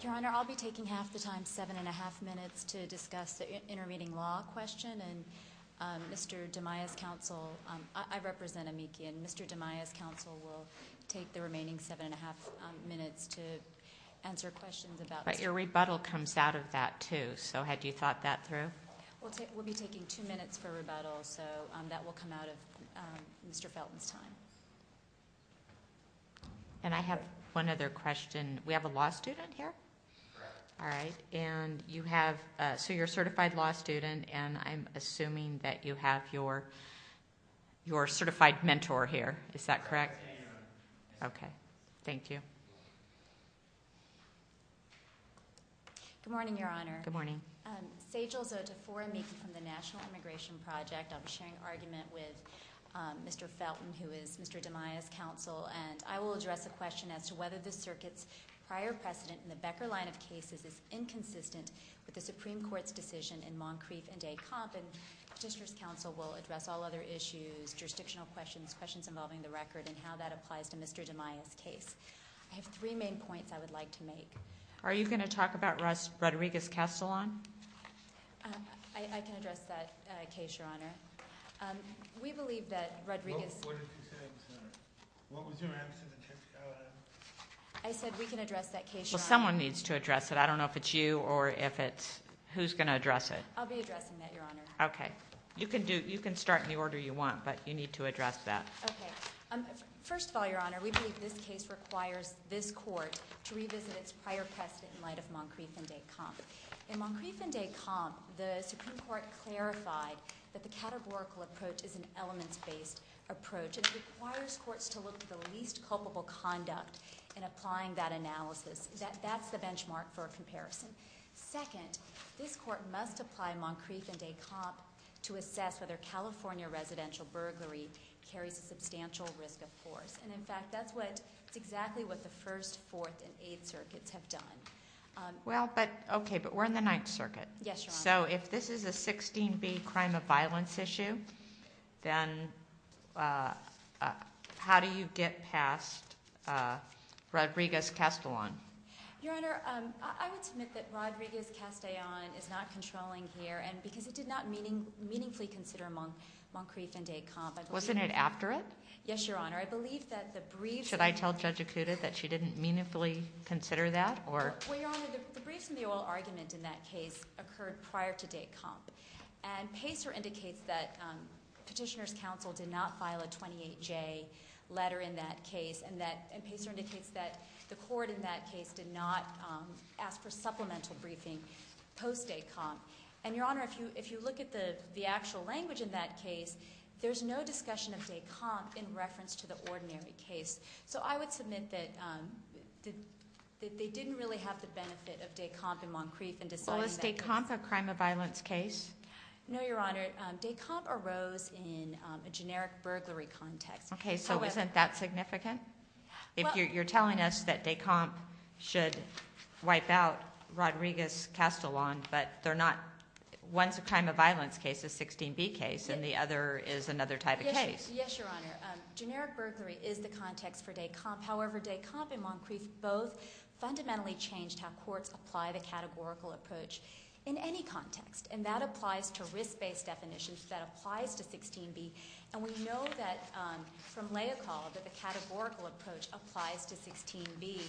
Your Honor, I'll be taking half the time, seven and a half minutes, to discuss the intermediate law question. And Mr. Dimaya's counsel, I represent Amiki, and Mr. Dimaya's counsel will take the remaining seven and a half minutes to answer questions about this. But your rebuttal comes out of that too, so had you thought that through? We'll be taking two minutes for rebuttal, so that will come out of Mr. Felton's time. And I have one other question. We have a law student here? Correct. All right. And you have, so you're a certified law student, and I'm assuming that you have your certified mentor here. Is that correct? Yes. Okay. Thank you. Good morning, Your Honor. Good morning. Sejal Zota for Amiki from the National Immigration Project. I'll be sharing argument with Mr. Felton, who is Mr. Dimaya's counsel, and I will address a question as to whether the circuit's prior precedent in the Becker line of cases is inconsistent with the Supreme Court's decision in Moncrieff and Des Campes, and the District's counsel will address all other issues, jurisdictional questions, questions involving the record, and how that applies to Mr. Dimaya's case. I have three main points I would like to make. Are you going to talk about Rodriguez-Castellon? I can address that case, Your Honor. We believe that Rodriguez... What did you say, Madam Senator? What was your answer? I said we can address that case, Your Honor. Well, someone needs to address it. I don't know if it's you or if it's, who's going to address it? I'll be addressing that, Your Honor. Okay. You can start in the order you want, but you need to address that. Okay. First of all, Your Honor, we believe this case requires this court to revisit its prior precedent in light of Moncrieff and Des Campes. In Moncrieff and Des Campes, the Supreme Court clarified that the categorical approach is an elements-based approach, and it requires courts to look at the least culpable conduct in applying that analysis. That's the benchmark for a comparison. Second, this court must apply Moncrieff and Des Campes to assess whether California residential burglary carries a substantial risk of force. In fact, that's exactly what the First, Fourth, and Eighth Circuits have done. Okay, but we're in the Ninth Circuit. Yes, Your Honor. If this is a 16B crime of violence issue, then how do you get past Rodriguez-Castellon? Your Honor, I would submit that Rodriguez-Castellon is not controlling here, and because it did not meaningfully consider Moncrieff and Des Campes. Wasn't it after it? Yes, Your Honor. I believe that the briefs... Should I tell Judge Acuda that she didn't meaningfully consider that, or... Well, Your Honor, the briefs in the oral argument in that case occurred prior to Des Campes, and Pacer indicates that Petitioner's Counsel did not file a 28J letter in that case, and Pacer indicates that the court in that case did not ask for supplemental briefing post-Des Campes. And, Your Honor, if you look at the actual language in that case, there's no discussion of Des Campes in reference to the ordinary case. So I would submit that they didn't really have the benefit of Des Campes and Moncrieff in deciding that case. Well, is Des Campes a crime of violence case? No, Your Honor, Des Campes arose in a generic burglary context. Okay, so isn't that significant? If you're telling us that Des Campes should wipe out Rodriguez-Castellon, but they're not... One's a crime of violence case, a 16B case, and the other is another type of case. Yes, Your Honor. Generic burglary is the context for Des Campes. However, Des Campes and Moncrieff both fundamentally changed how courts apply the categorical approach in any context, and that applies to risk-based definitions, that applies to 16B. And we know that from Leocal that the categorical approach applies to 16B,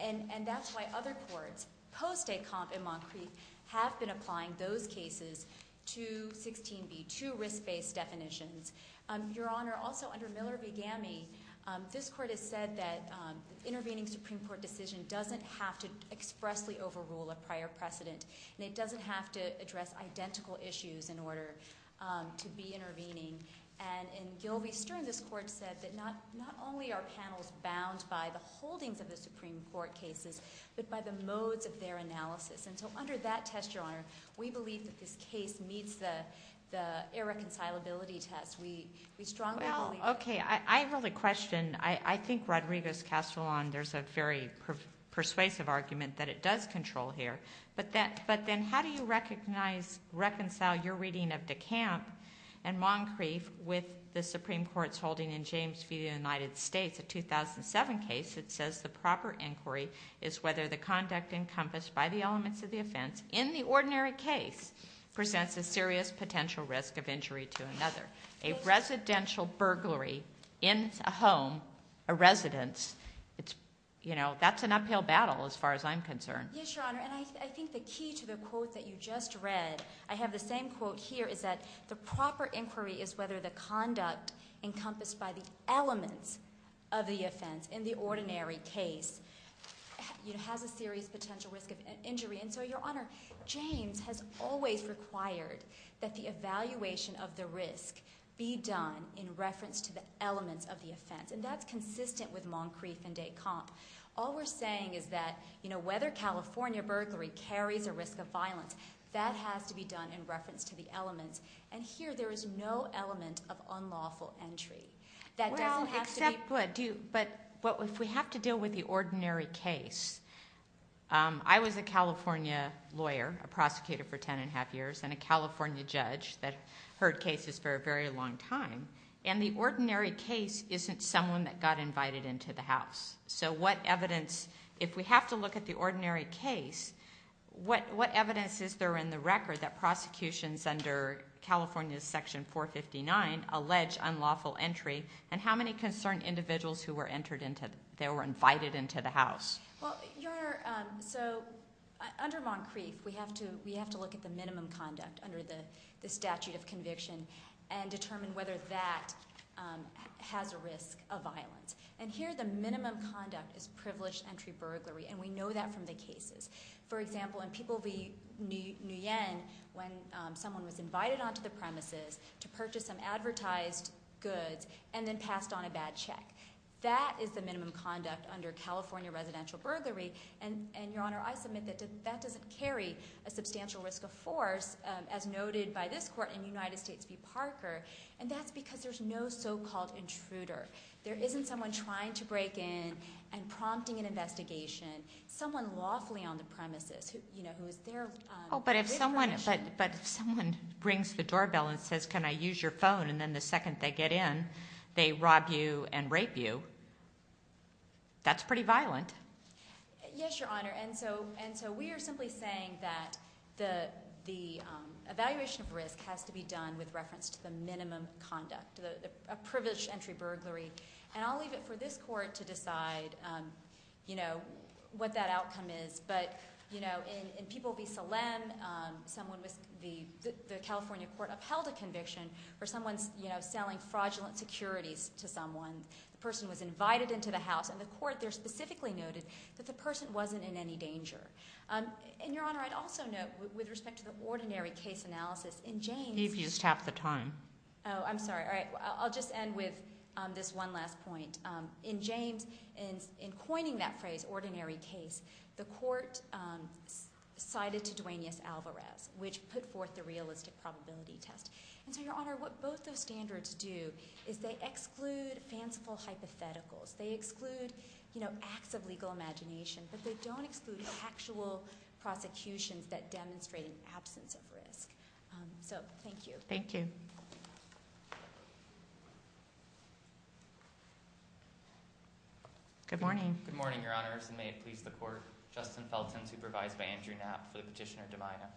and that's why other courts post-Des Campes and Moncrieff have been applying those cases to 16B, to risk-based definitions. Your Honor, also under Miller v. Gammey, this court has said that intervening Supreme Court decision doesn't have to expressly overrule a prior precedent, and it doesn't have to And in Gilvey-Stern, this court said that not only are panels bound by the holdings of the Supreme Court cases, but by the modes of their analysis. And so under that test, Your Honor, we believe that this case meets the irreconcilability test. We strongly believe that. Well, okay. I have a question. I think Rodriguez-Castellon, there's a very persuasive argument that it does control here, but then how do you reconcile your reading of Des Campes and Moncrieff with the Supreme Court's holding in James v. United States, a 2007 case that says the proper inquiry is whether the conduct encompassed by the elements of the offense in the ordinary case presents a serious potential risk of injury to another. A residential burglary in a home, a residence, that's an uphill battle as far as I'm concerned. Yes, Your Honor. And I think the key to the quote that you just read, I have the same quote here, is that the proper inquiry is whether the conduct encompassed by the elements of the offense in the ordinary case has a serious potential risk of injury. And so, Your Honor, James has always required that the evaluation of the risk be done in reference to the elements of the offense, and that's consistent with Moncrieff and Des Campes. All we're saying is that, you know, whether California burglary carries a risk of violence, that has to be done in reference to the elements, and here there is no element of unlawful entry. That doesn't have to be... Well, except... But if we have to deal with the ordinary case, I was a California lawyer, a prosecutor for ten and a half years, and a California judge that heard cases for a very long time, and the ordinary case isn't someone that got invited into the House. So what evidence... If we have to look at the ordinary case, what evidence is there in the record that prosecutions under California's Section 459 allege unlawful entry, and how many concerned individuals who were entered into... They were invited into the House? Well, Your Honor, so under Moncrieff, we have to look at the minimum conduct under the statute of conviction, and determine whether that has a risk of violence. And here, the minimum conduct is privileged entry burglary, and we know that from the cases. For example, in People v. Nguyen, when someone was invited onto the premises to purchase some advertised goods, and then passed on a bad check. That is the minimum conduct under California residential burglary, and Your Honor, I submit that that doesn't carry a substantial risk of force, as noted by this court in United States v. Parker, and that's because there's no so-called intruder. There isn't someone trying to break in, and prompting an investigation. Someone lawfully on the premises, you know, who is there... Oh, but if someone rings the doorbell and says, can I use your phone, and then the second they get in, they rob you and rape you, that's pretty violent. Yes, Your Honor, and so we are simply saying that the evaluation of risk has to be done with reference to the minimum conduct, a privileged entry burglary, and I'll leave it for this court to decide, you know, what that outcome is, but, you know, in People v. Salem, the California court upheld a conviction where someone's, you know, selling fraudulent securities to someone. The person was invited into the house, and the court there specifically noted that the person wasn't in any danger, and Your Honor, I'd also note, with respect to the ordinary case analysis, in James... Eve, you just tapped the time. Oh, I'm sorry. All right. I'll just end with this one last point. In James, in coining that phrase, ordinary case, the court cited to Duaneus Alvarez, which put forth the realistic probability test, and so, Your Honor, what both those standards do is they exclude fanciful hypotheticals. They exclude, you know, acts of legal imagination, but they don't exclude actual prosecutions that demonstrate an absence of risk. So, thank you. Thank you. Good morning. Good morning, Your Honors, and may it please the Court, Justin Felton, supervised by Andrew Knapp for the petitioner, Devina.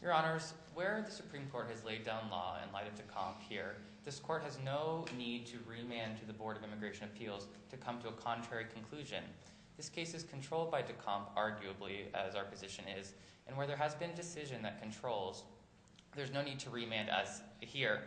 Your Honors, where the Supreme Court has laid down law in light of Decomp here, this Court has no need to remand to the Board of Immigration Appeals to come to a contrary conclusion. This case is controlled by Decomp, arguably, as our position is, and where there has been decision that controls, there's no need to remand us here.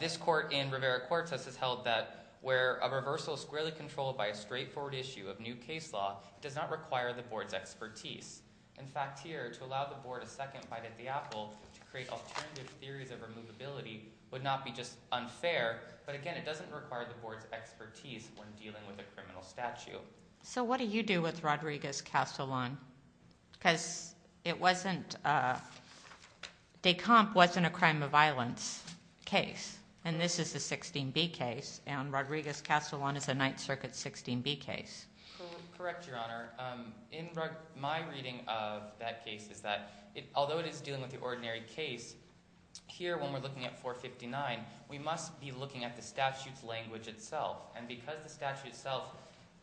This Court in Rivera-Cortez has held that where a reversal is squarely controlled by a straightforward issue of new case law, it does not require the Board's expertise. In fact, here, to allow the Board a second bite at the apple to create alternative theories of removability would not be just unfair, but again, it doesn't require the Board's expertise when dealing with a criminal statute. So what do you do with Rodriguez-Castellon? Because it wasn't, Decomp wasn't a crime of violence case, and this is a 16B case, and Rodriguez-Castellon is a Ninth Circuit 16B case. Correct, Your Honor. In my reading of that case is that, although it is dealing with the ordinary case, here when we're looking at 459, we must be looking at the statute's language itself, and because the statute itself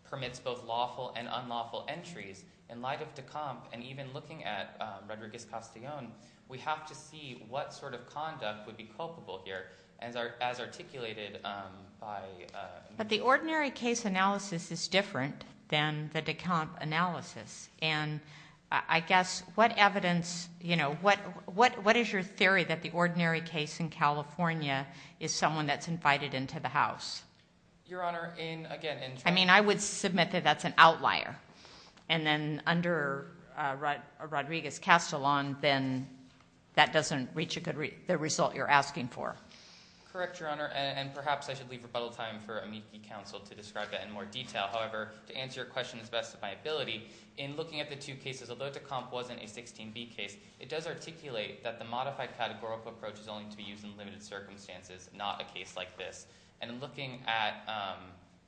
permits both lawful and unlawful entries, in light of Decomp, and even looking at Rodriguez-Castellon, we have to see what sort of conduct would be culpable here, as articulated by... But the ordinary case analysis is different than the Decomp analysis, and I guess, what evidence, you know, what is your theory that the ordinary case in California is someone that's invited into the House? Your Honor, in... I mean, I would submit that that's an outlier, and then under Rodriguez-Castellon, then that doesn't reach the result you're asking for. Correct, Your Honor, and perhaps I should leave rebuttal time for amici counsel to describe that in more detail. However, to answer your question as best of my ability, in looking at the two cases, although Decomp wasn't a 16B case, it does articulate that the modified categorical approach is only to be used in limited circumstances, not a case like this. And looking at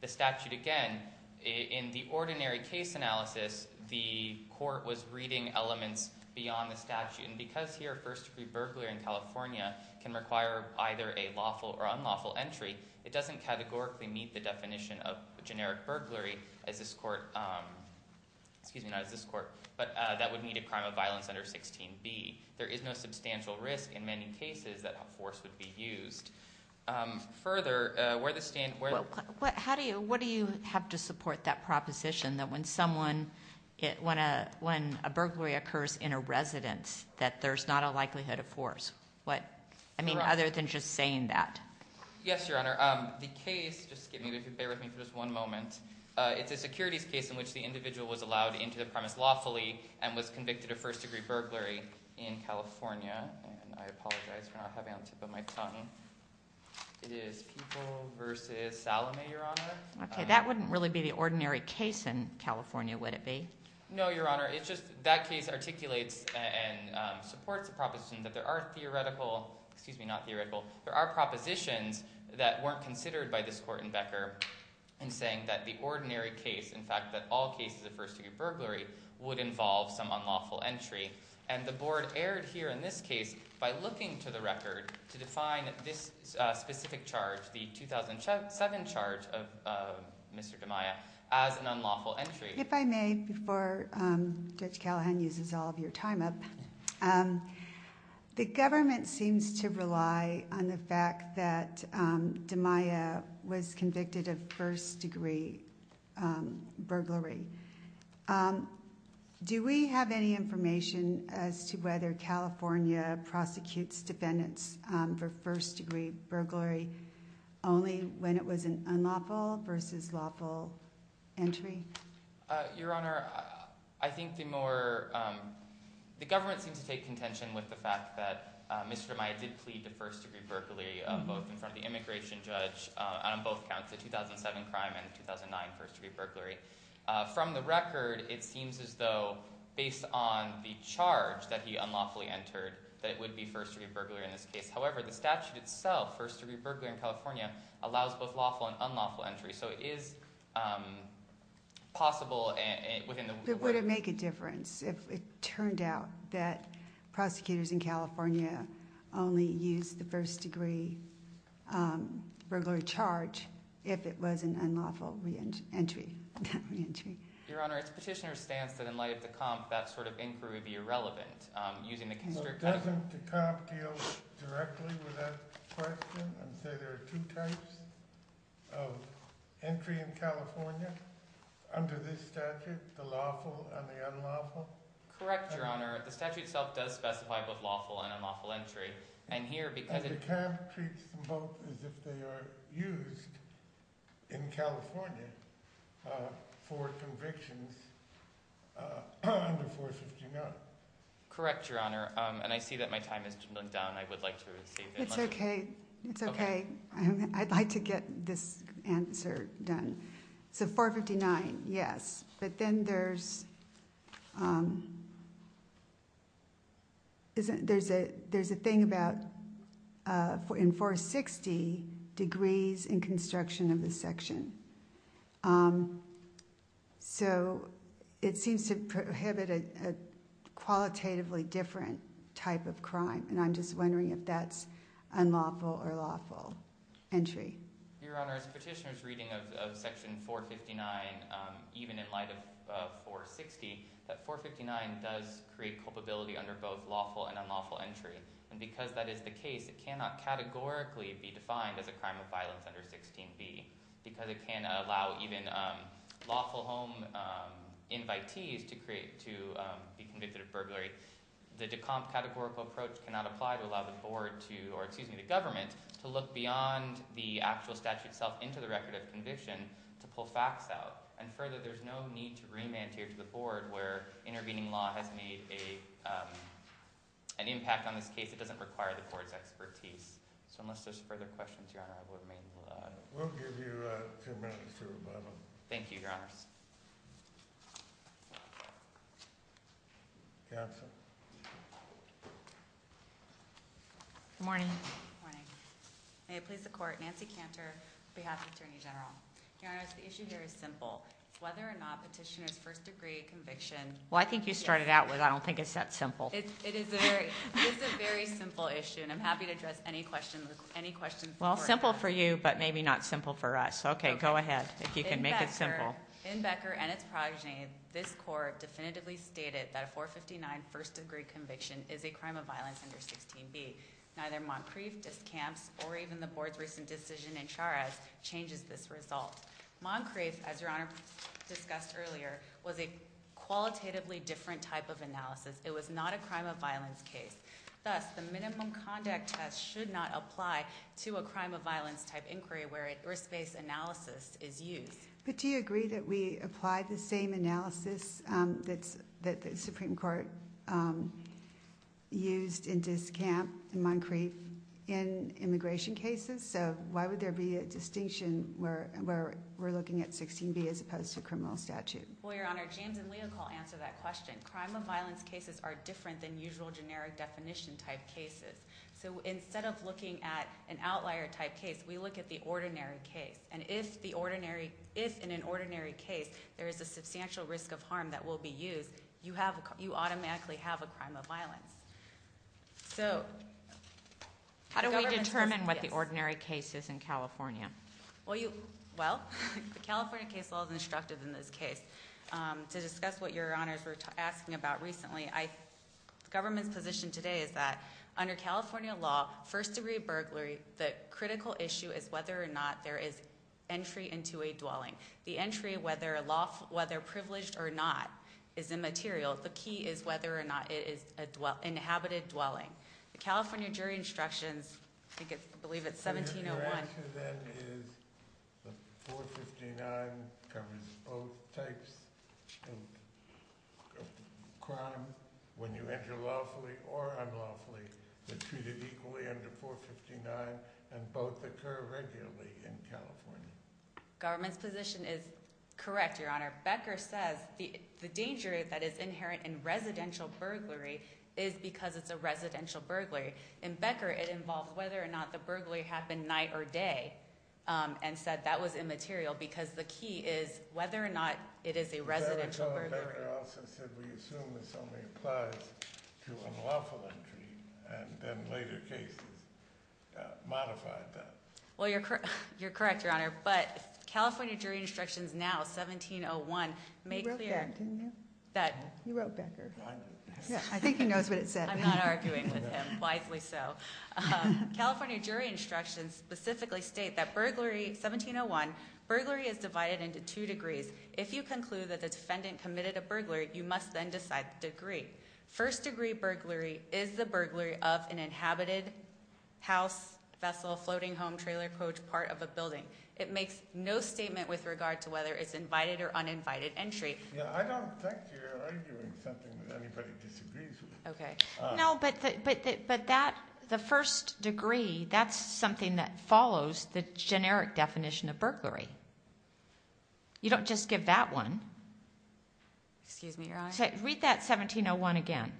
the statute again, in the ordinary case analysis, the court was reading elements beyond the statute, and because here, first-degree burglary in California can require either a lawful or unlawful entry, it doesn't categorically meet the definition of generic burglary as this court... Excuse me, not as this court, but that would meet a crime of violence under 16B. There is no substantial risk in many cases that force would be used. Further, where the stand... How do you... What do you have to support that proposition that when someone, when a burglary occurs in a residence, that there's not a likelihood of force? I mean, other than just saying that. Yes, Your Honor. The case, just bear with me for just one moment, it's a securities case in which the individual was allowed into the premise lawfully and was convicted of first-degree burglary in It is People v. Salome, Your Honor. Okay, that wouldn't really be the ordinary case in California, would it be? No, Your Honor, it's just that case articulates and supports the proposition that there are theoretical... Excuse me, not theoretical. There are propositions that weren't considered by this court in Becker in saying that the ordinary case, in fact, that all cases of first-degree burglary would involve some unlawful entry, and the board erred here in this case by looking to the record to define this specific charge, the 2007 charge of Mr. DiMaia, as an unlawful entry. If I may, before Judge Callahan uses all of your time up, the government seems to rely on the fact that DiMaia was convicted of first-degree burglary. Do we have any information as to whether California prosecutes defendants for first-degree burglary only when it was an unlawful versus lawful entry? Your Honor, I think the government seems to take contention with the fact that Mr. DiMaia did plead to first-degree burglary, both in front of the immigration judge, and on both accounts, the 2007 crime and the 2009 first-degree burglary. From the record, it seems as though, based on the charge that he unlawfully entered, that it would be first-degree burglary in this case. However, the statute itself, first-degree burglary in California, allows both lawful and unlawful entry. So it is possible within the way- But would it make a difference if it turned out that prosecutors in California only use the first-degree burglary charge if it was an unlawful entry? Your Honor, it's Petitioner's stance that in light of the comp, that sort of inquiry would be irrelevant. Doesn't the comp deal directly with that question and say there are two types of entry in California under this statute, the lawful and the unlawful? Correct, Your Honor. The statute itself does specify both lawful and unlawful entry. And here, because- But the comp treats them both as if they are used in California for convictions under 459. Correct, Your Honor. And I see that my time has run down. I would like to save- It's okay. It's okay. I'd like to get this answer done. So 459, yes. But then there's a thing about in 460, degrees in construction of the section. So it seems to prohibit a qualitatively different type of crime. And I'm just wondering if that's unlawful or lawful entry. Your Honor, as Petitioner's reading of section 459, even in light of 460, that 459 does create culpability under both lawful and unlawful entry. And because that is the case, it cannot categorically be defined as a crime of violence under 16B. Because it cannot allow even lawful home invitees to be convicted of burglary. The de comp categorical approach cannot apply to allow the board to, or excuse me, the government, to look beyond the actual statute itself into the record of conviction to pull facts out. And further, there's no need to remand here to the board where intervening law has made an impact on this case. It doesn't require the board's expertise. So unless there's further questions, Your Honor, I will remain- We'll give you two minutes to rebuttal. Thank you, Your Honors. Counsel. Good morning. Good morning. May it please the court, Nancy Cantor, on behalf of the Attorney General. Your Honor, the issue here is simple. Whether or not Petitioner's first degree conviction- Well, I think you started out with, I don't think it's that simple. It is a very simple issue, and I'm happy to address any questions- Well, simple for you, but maybe not simple for us. Okay, go ahead, if you can make it simple. In Becker and its progeny, this court definitively stated that a 459 first degree conviction is a crime of violence under 16B. Neither Moncrief, Discamps, or even the board's recent decision in Charez, changes this result. Moncrief, as Your Honor discussed earlier, was a qualitatively different type of analysis. It was not a crime of violence case. Thus, the minimum conduct test should not apply to a crime of violence type inquiry where a risk-based analysis is used. But do you agree that we apply the same analysis that the Supreme Court used in Discamp and Moncrief in immigration cases? So, why would there be a distinction where we're looking at 16B as opposed to criminal statute? Well, Your Honor, James and Leocol answer that question. Crime of violence cases are different than usual generic definition type cases. So, instead of looking at an outlier type case, we look at the ordinary case. And if in an ordinary case, there is a substantial risk of harm that will be used, you automatically have a crime of violence. How do we determine what the ordinary case is in California? Well, the California case law is instructive in this case. To discuss what Your Honors were asking about recently, the government's position today is that under California law, first degree burglary, the critical issue is whether or not there is entry into a dwelling. The entry, whether privileged or not, is immaterial. The key is whether or not it is an inhabited dwelling. The California jury instructions, I believe it's 1701. Your answer then is 459 covers both types of crime when you enter lawfully or unlawfully. They're treated equally under 459 and both occur regularly in California. Government's position is correct, Your Honor. Becker says the danger that is inherent in residential burglary is because it's a residential burglary. In Becker, it involved whether or not the burglary happened night or day and said that was immaterial because the key is whether or not it is a residential burglary. But Becker also said we assume this only applies to unlawful entry and then later cases modified that. Well, you're correct, Your Honor. But California jury instructions now, 1701, make clear... You wrote that, didn't you? You wrote Becker. I did. I think he knows what it said. I'm not arguing with him, wisely so. California jury instructions specifically state that burglary, 1701, burglary is divided into two degrees. If you conclude that the defendant committed a burglary, you must then decide the degree. First degree burglary is the burglary of an inhabited house, vessel, floating home, trailer, coach, part of a building. It makes no statement with regard to whether it's invited or uninvited entry. I don't think you're arguing something that anybody disagrees with. No, but the first degree, that's something that follows the generic definition of burglary. You don't just give that one. Excuse me, Your Honor. Read that 1701 again.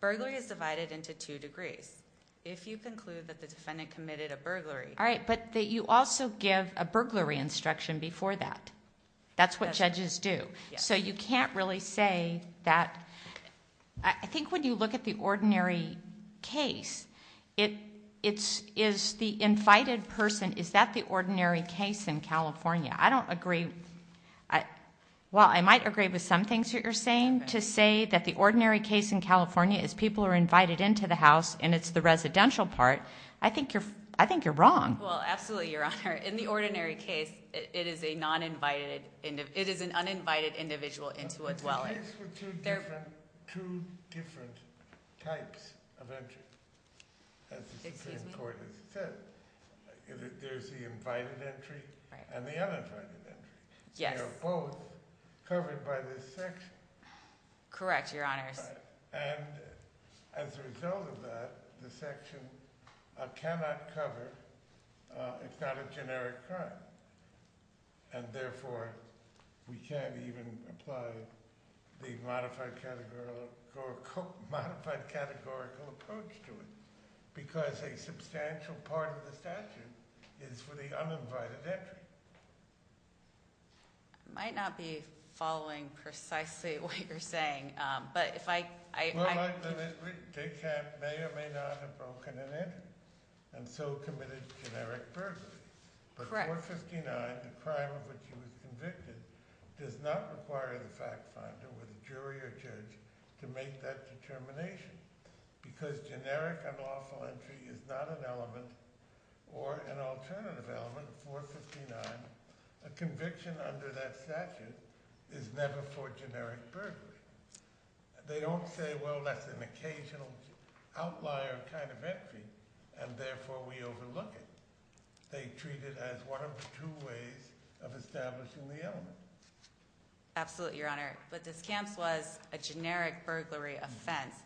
Burglary is divided into two degrees. If you conclude that the defendant committed a burglary... All right, but you also give a burglary instruction before that. That's what judges do. So you can't really say that... I think when you look at the ordinary case, is the invited person, is that the ordinary case? I don't agree... Well, I might agree with some things that you're saying, to say that the ordinary case in California is people are invited into the house and it's the residential part. I think you're wrong. Well, absolutely, Your Honor. In the ordinary case, it is an uninvited individual into a dwelling. There are two different types of entry. Excuse me? As the court has said, there's the invited entry and the uninvited entry. They're both covered by this section. Correct, Your Honors. And as a result of that, the section cannot cover, it's not a generic crime. And therefore, we can't even apply the modified categorical approach to it. Because a substantial part of the statute is for the uninvited entry. I might not be following precisely what you're saying, but if I... Well, like Elizabeth, they may or may not have broken an entry and so committed generic burglary. Correct. But 459, the crime of which she was convicted, does not require the fact finder or the jury or judge to make that determination. Because generic unlawful entry is not an element or an alternative element for 459, a conviction under that statute is never for generic burglary. They don't say, well, that's an occasional outlier kind of entry and therefore we overlook it. They treat it as one of the two ways of establishing the element. Absolutely, Your Honor. But this camp's was a generic burglary offense.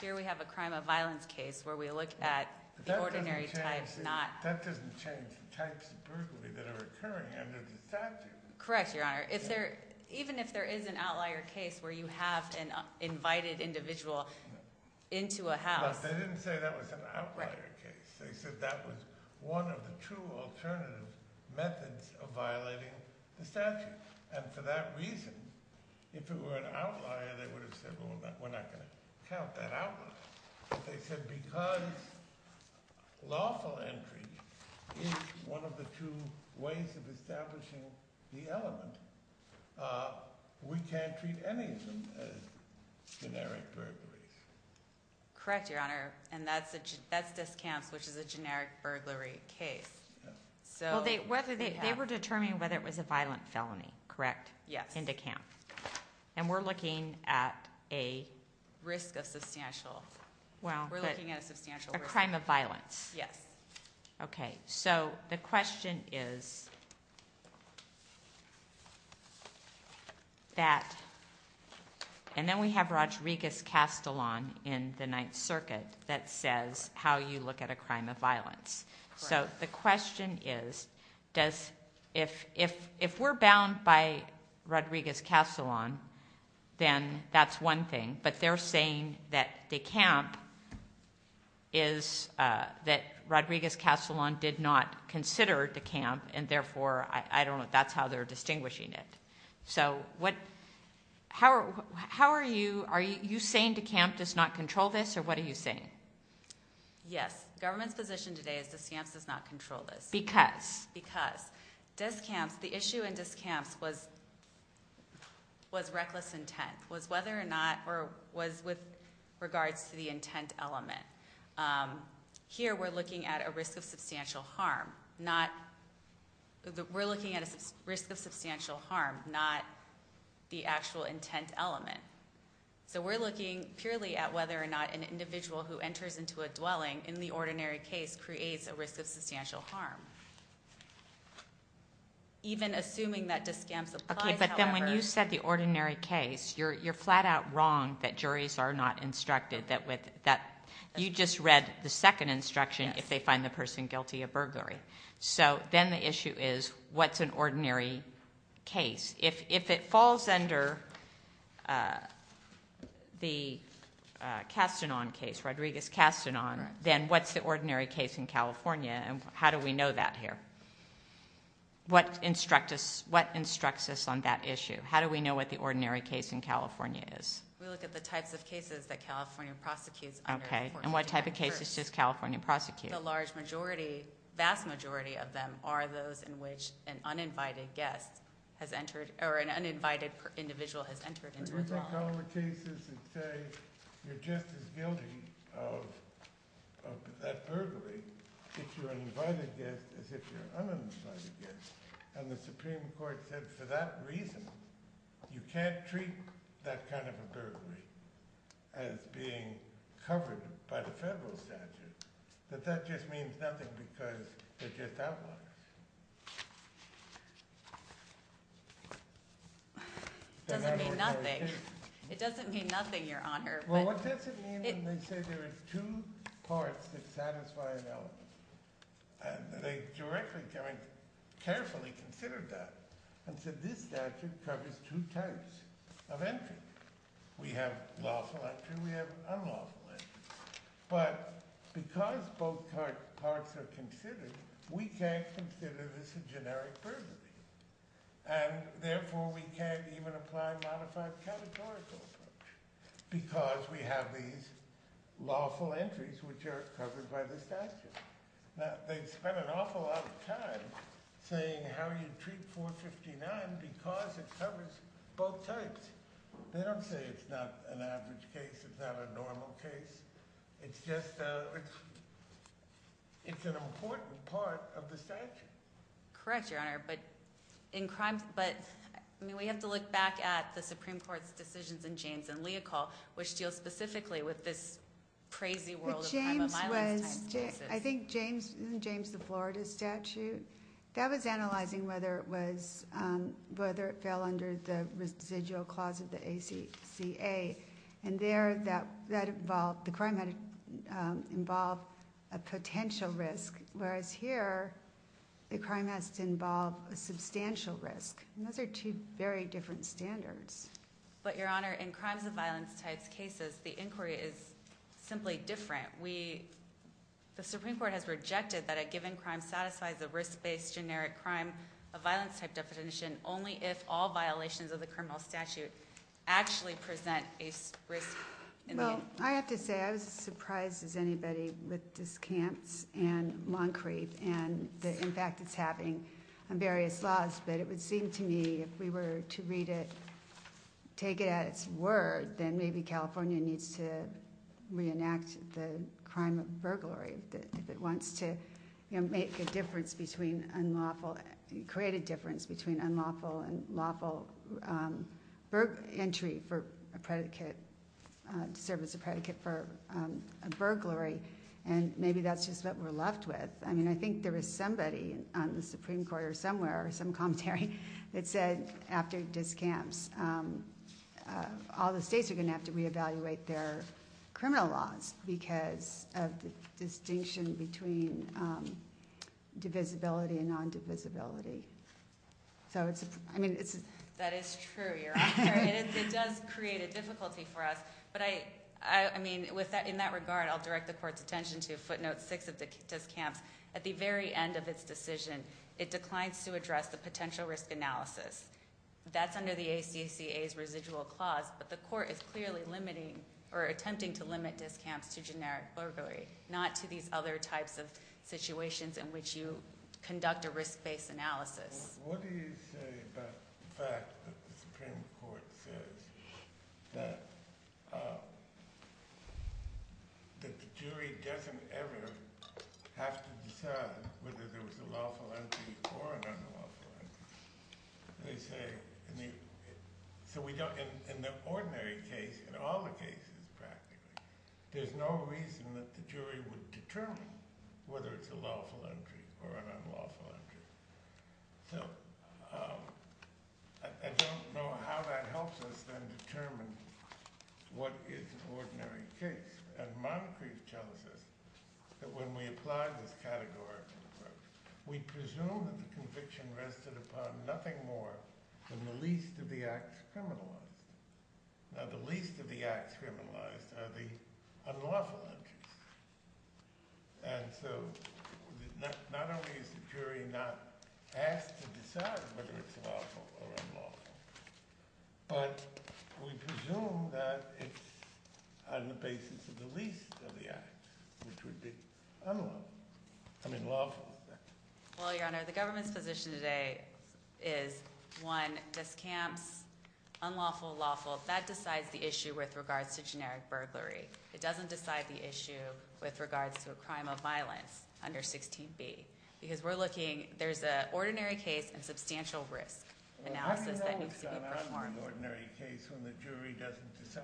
Here we have a crime of violence case where we look at the ordinary type... But that doesn't change the types of burglary that are occurring under the statute. Correct, Your Honor. Even if there is an outlier case where you have an invited individual into a house... But they didn't say that was an outlier case. They said that was one of the two alternative methods of violating the statute. And for that reason, if it were an outlier, they would have said, we're not going to count that out. But they said because lawful entry is one of the two ways of establishing the element, we can't treat any of them as generic burglaries. Correct, Your Honor. And that's this camp's, which is a generic burglary case. They were determining whether it was a violent felony, correct? Yes. And we're looking at a risk of substantial... We're looking at a substantial risk. A crime of violence. So the question is that... And then we have Rodriguez-Castellon in the Ninth Circuit that says how you look at a crime of violence. So the question is does... If we're bound by Rodriguez-Castellon, then that's one thing. But they're saying that DeCamp is that Rodriguez-Castellon did not consider DeCamp and therefore, I don't know, that's how they're distinguishing it. How are you... Are you saying DeCamp does not control this or what are you saying? Yes. Government's position today is DeCamp does not control this. Because? The issue in DeCamp's was was reckless intent. Was whether or not was with regards to the intent element. Here we're looking at a risk of substantial harm. We're looking at a risk of substantial harm, not the actual intent element. So we're looking purely at whether or not an individual who enters into a dwelling in the ordinary case creates a risk of substantial harm. Even assuming that DeCamp's applies... But then when you said the ordinary case you're flat out wrong that juries are not instructed that you just read the second instruction if they find the person guilty of burglary. So then the issue is what's an ordinary case? If it falls under the Castellon case, Rodriguez-Castellon, then what's the ordinary case in California and how do we know that here? What instructs us on that issue? How do we know what the ordinary case in California is? We look at the types of cases that California prosecutes. And what type of cases does California prosecute? The large majority, vast majority of them are those in which an uninvited guest has entered, or an uninvited individual has entered into a dwelling.... And then you go over the cases and say you're just as guilty...... of that burglary......... And the Supreme Court said for that reason you can't treat that kind of a burglary as being covered by the federal statute. But that just means nothing because they're just outliers.... It doesn't mean nothing. It doesn't mean nothing, Your Honor. Well, what does it mean when they say there are two parts that satisfy an element? They directly, I mean, carefully considered that and said this statute covers two types of entry. We have lawful entry, we have unlawful entry. But because both parts are considered, we can't consider this a generic burglary. And therefore we can't even apply a modified categorical approach because we have these lawful entries which are covered by the statute. Now, they've spent an awful lot of time saying how you treat 459 because it covers both types. They don't say it's not an average case, it's not a normal case. It's just a... It's an important part of the statute. Correct, Your Honor. But we have to look back at the Supreme Court's decisions in James and Leocal which deal specifically with this crazy world of crime on my lifetime's basis. I think James, in the Florida statute, that was analyzing whether it was, whether it fell under the residual clause of the ACCA. And there, that involved the crime had involved a potential risk. Whereas here, the crime has to involve a substantial risk. And those are two very different standards. But Your Honor, in crimes of violence type cases, the inquiry is simply different. We... The Supreme Court has rejected that a given crime satisfies a risk-based generic crime of violence type definition only if all violations of the criminal statute actually present a risk in the... Well, I have to say I was as surprised as anybody with this camps and and the impact it's having on various laws. But it would seem to me, if we were to read it take it at its word then maybe California needs to reenact the crime of burglary. If it wants to make a difference between unlawful... create a difference between unlawful and lawful entry for a predicate to serve as a predicate for a burglary. And maybe that's just what we're left with. I think there is somebody on the Supreme Court or somewhere, some commentary that said, after this camps all the states are going to have to reevaluate their criminal laws because of the distinction between divisibility and non-divisibility. So it's... That is true, Your Honor. It does create a difficulty for us. But I mean in that regard, I'll direct the court's attention to footnote 6 of this camps. At the very end of its decision it declines to address the potential risk analysis. That's under the ACCA's residual clause but the court is clearly limiting or attempting to limit this camps to generic burglary. Not to these other types of situations in which you conduct a risk-based analysis. What do you say about the fact that the Supreme Court says that the jury doesn't ever have to decide whether there was a lawful entry or an unlawful entry. They say... So we don't... In the ordinary case, in all the cases practically, there's no reason that the jury would determine whether it's a lawful entry or an unlawful entry. So I don't know how that helps us then determine what is an ordinary case. And Moncrief tells us that when we apply this category we presume that the conviction rested upon nothing more than the least of the acts criminalized. Now the least of the acts criminalized are the unlawful entries. And so not only is the jury not asked to decide whether it's lawful or unlawful but we presume that it's on the basis of the least of the acts, which would be unlawful. I mean lawful is that. Well, Your Honor, the government's position today is one, this camps unlawful, lawful. That decides the issue with regards to generic burglary. It doesn't decide the issue with regards to a crime of violence under 16b. Because we're looking, there's an ordinary case and substantial risk analysis that needs to be performed. When the jury doesn't decide.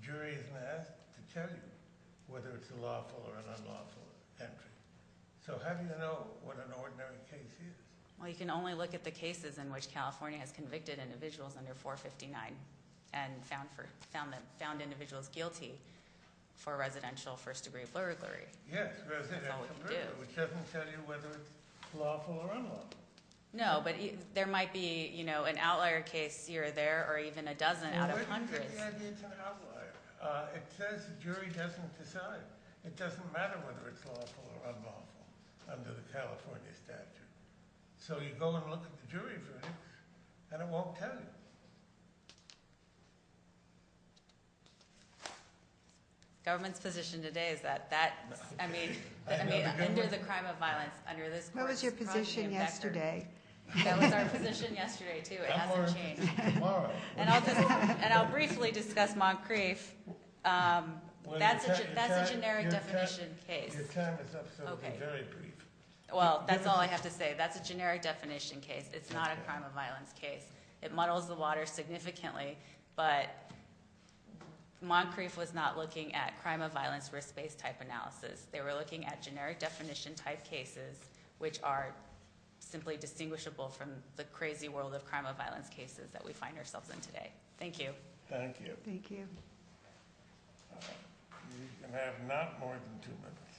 The jury isn't asked to tell you whether it's a lawful or an unlawful entry. So how do you know what an ordinary case is? Well, you can only look at the cases in which California has convicted individuals under 459 and found individuals guilty for residential first degree burglary. Yes, residential burglary, which doesn't tell you whether it's lawful or unlawful. No, but there might be, you know an outlier case here or there or even a dozen out of hundreds. It's an outlier. It says the jury doesn't decide. It doesn't matter whether it's lawful or unlawful under the California statute. So you go and look at the jury verdict and it won't tell you. Government's position today is that, I mean under the crime of violence, under this What was your position yesterday? That was our position yesterday, too. It hasn't changed. And I'll briefly discuss Moncrief. That's a generic definition case. Your time is up, so be very brief. Well, that's all I have to say. That's a generic definition case. It's not a crime of violence case. It muddles the water significantly, but Moncrief was not looking at crime of violence risk-based type analysis. They were looking at generic definition type cases which are simply distinguishable from the crazy world of crime of violence cases that we find ourselves in today. Thank you. Thank you. Thank you. You have not more than two minutes.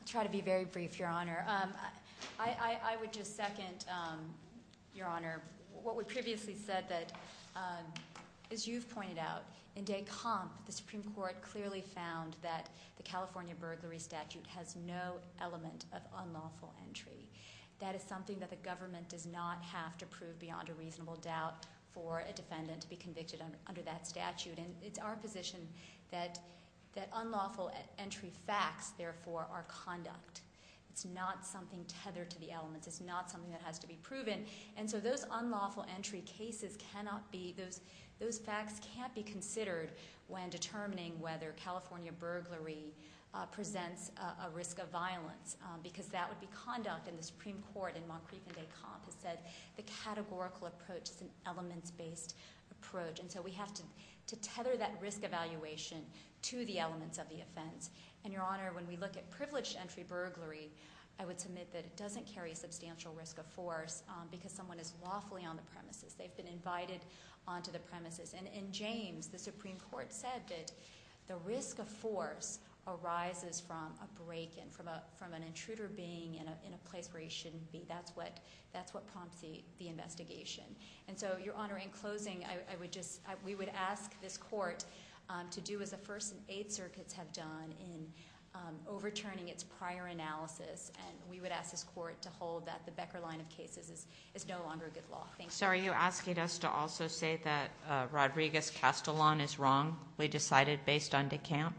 I'll try to be very brief, Your Honor. I would just second Your Honor, what we As you've pointed out, in Des Campes, the Supreme Court clearly found that the California burglary statute has no element of unlawful entry. That is something that the government does not have to prove beyond a reasonable doubt for a defendant to be convicted under that statute. And it's our position that unlawful entry facts, therefore, are conduct. It's not something tethered to the elements. It's not something that has to be proven. And so those unlawful entry cases cannot be those facts can't be considered when determining whether California burglary presents a risk of violence, because that would be conduct. And the Supreme Court in Montcrieff and Des Campes said the categorical approach is an elements-based approach. And so we have to tether that risk evaluation to the elements of the offense. And, Your Honor, when we look at privileged entry burglary, I would submit that it doesn't carry a substantial risk of force because someone is lawfully on the premises. They've been invited onto the premises. And in James, the Supreme Court said that the risk of force arises from a break-in, from an intruder being in a place where he shouldn't be. That's what prompts the investigation. And so, Your Honor, in closing, I would just, we would ask this Court to do as the First and Eighth Circuits have done in overturning its prior analysis, and we would ask this Court to hold that the Becker line of cases is no longer good law. Thank you. So are you asking us to also say that Rodriguez-Castellon is wrong? We decided based on Des Campes?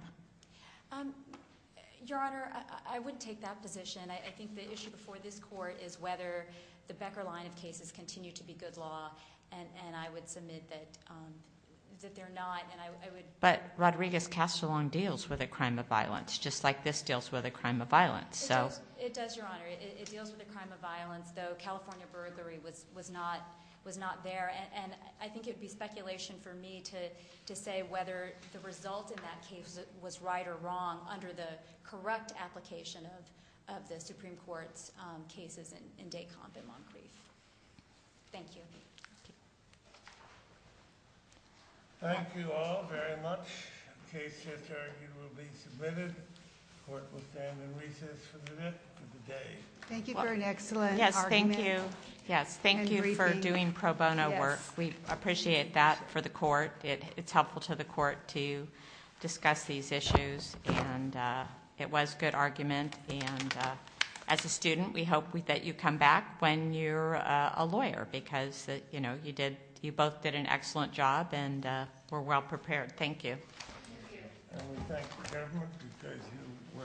Your Honor, I wouldn't take that position. I think the issue before this Court is whether the Becker line of cases continue to be good law, and I would submit that they're not. deals with a crime of violence, just like this deals with a crime of violence. It does, Your Honor. It deals with a crime of violence, though California burglary was not there, and I think it would be speculation for me to say whether the result in that case was right or wrong under the correct application of the Supreme Court's cases in Des Campes and Moncrief. Thank you. Thank you all very much. The case just argued will be submitted. The Court will stand in recess for the day. Thank you for an excellent argument. Thank you for doing pro bono work. We appreciate that for the Court. It's helpful to the Court to discuss these issues and it was good argument and as a student, we hope that you come back when you're a lawyer because you both did an excellent job and were well prepared. Thank you. And we thank the government because you worked to almost pro bono.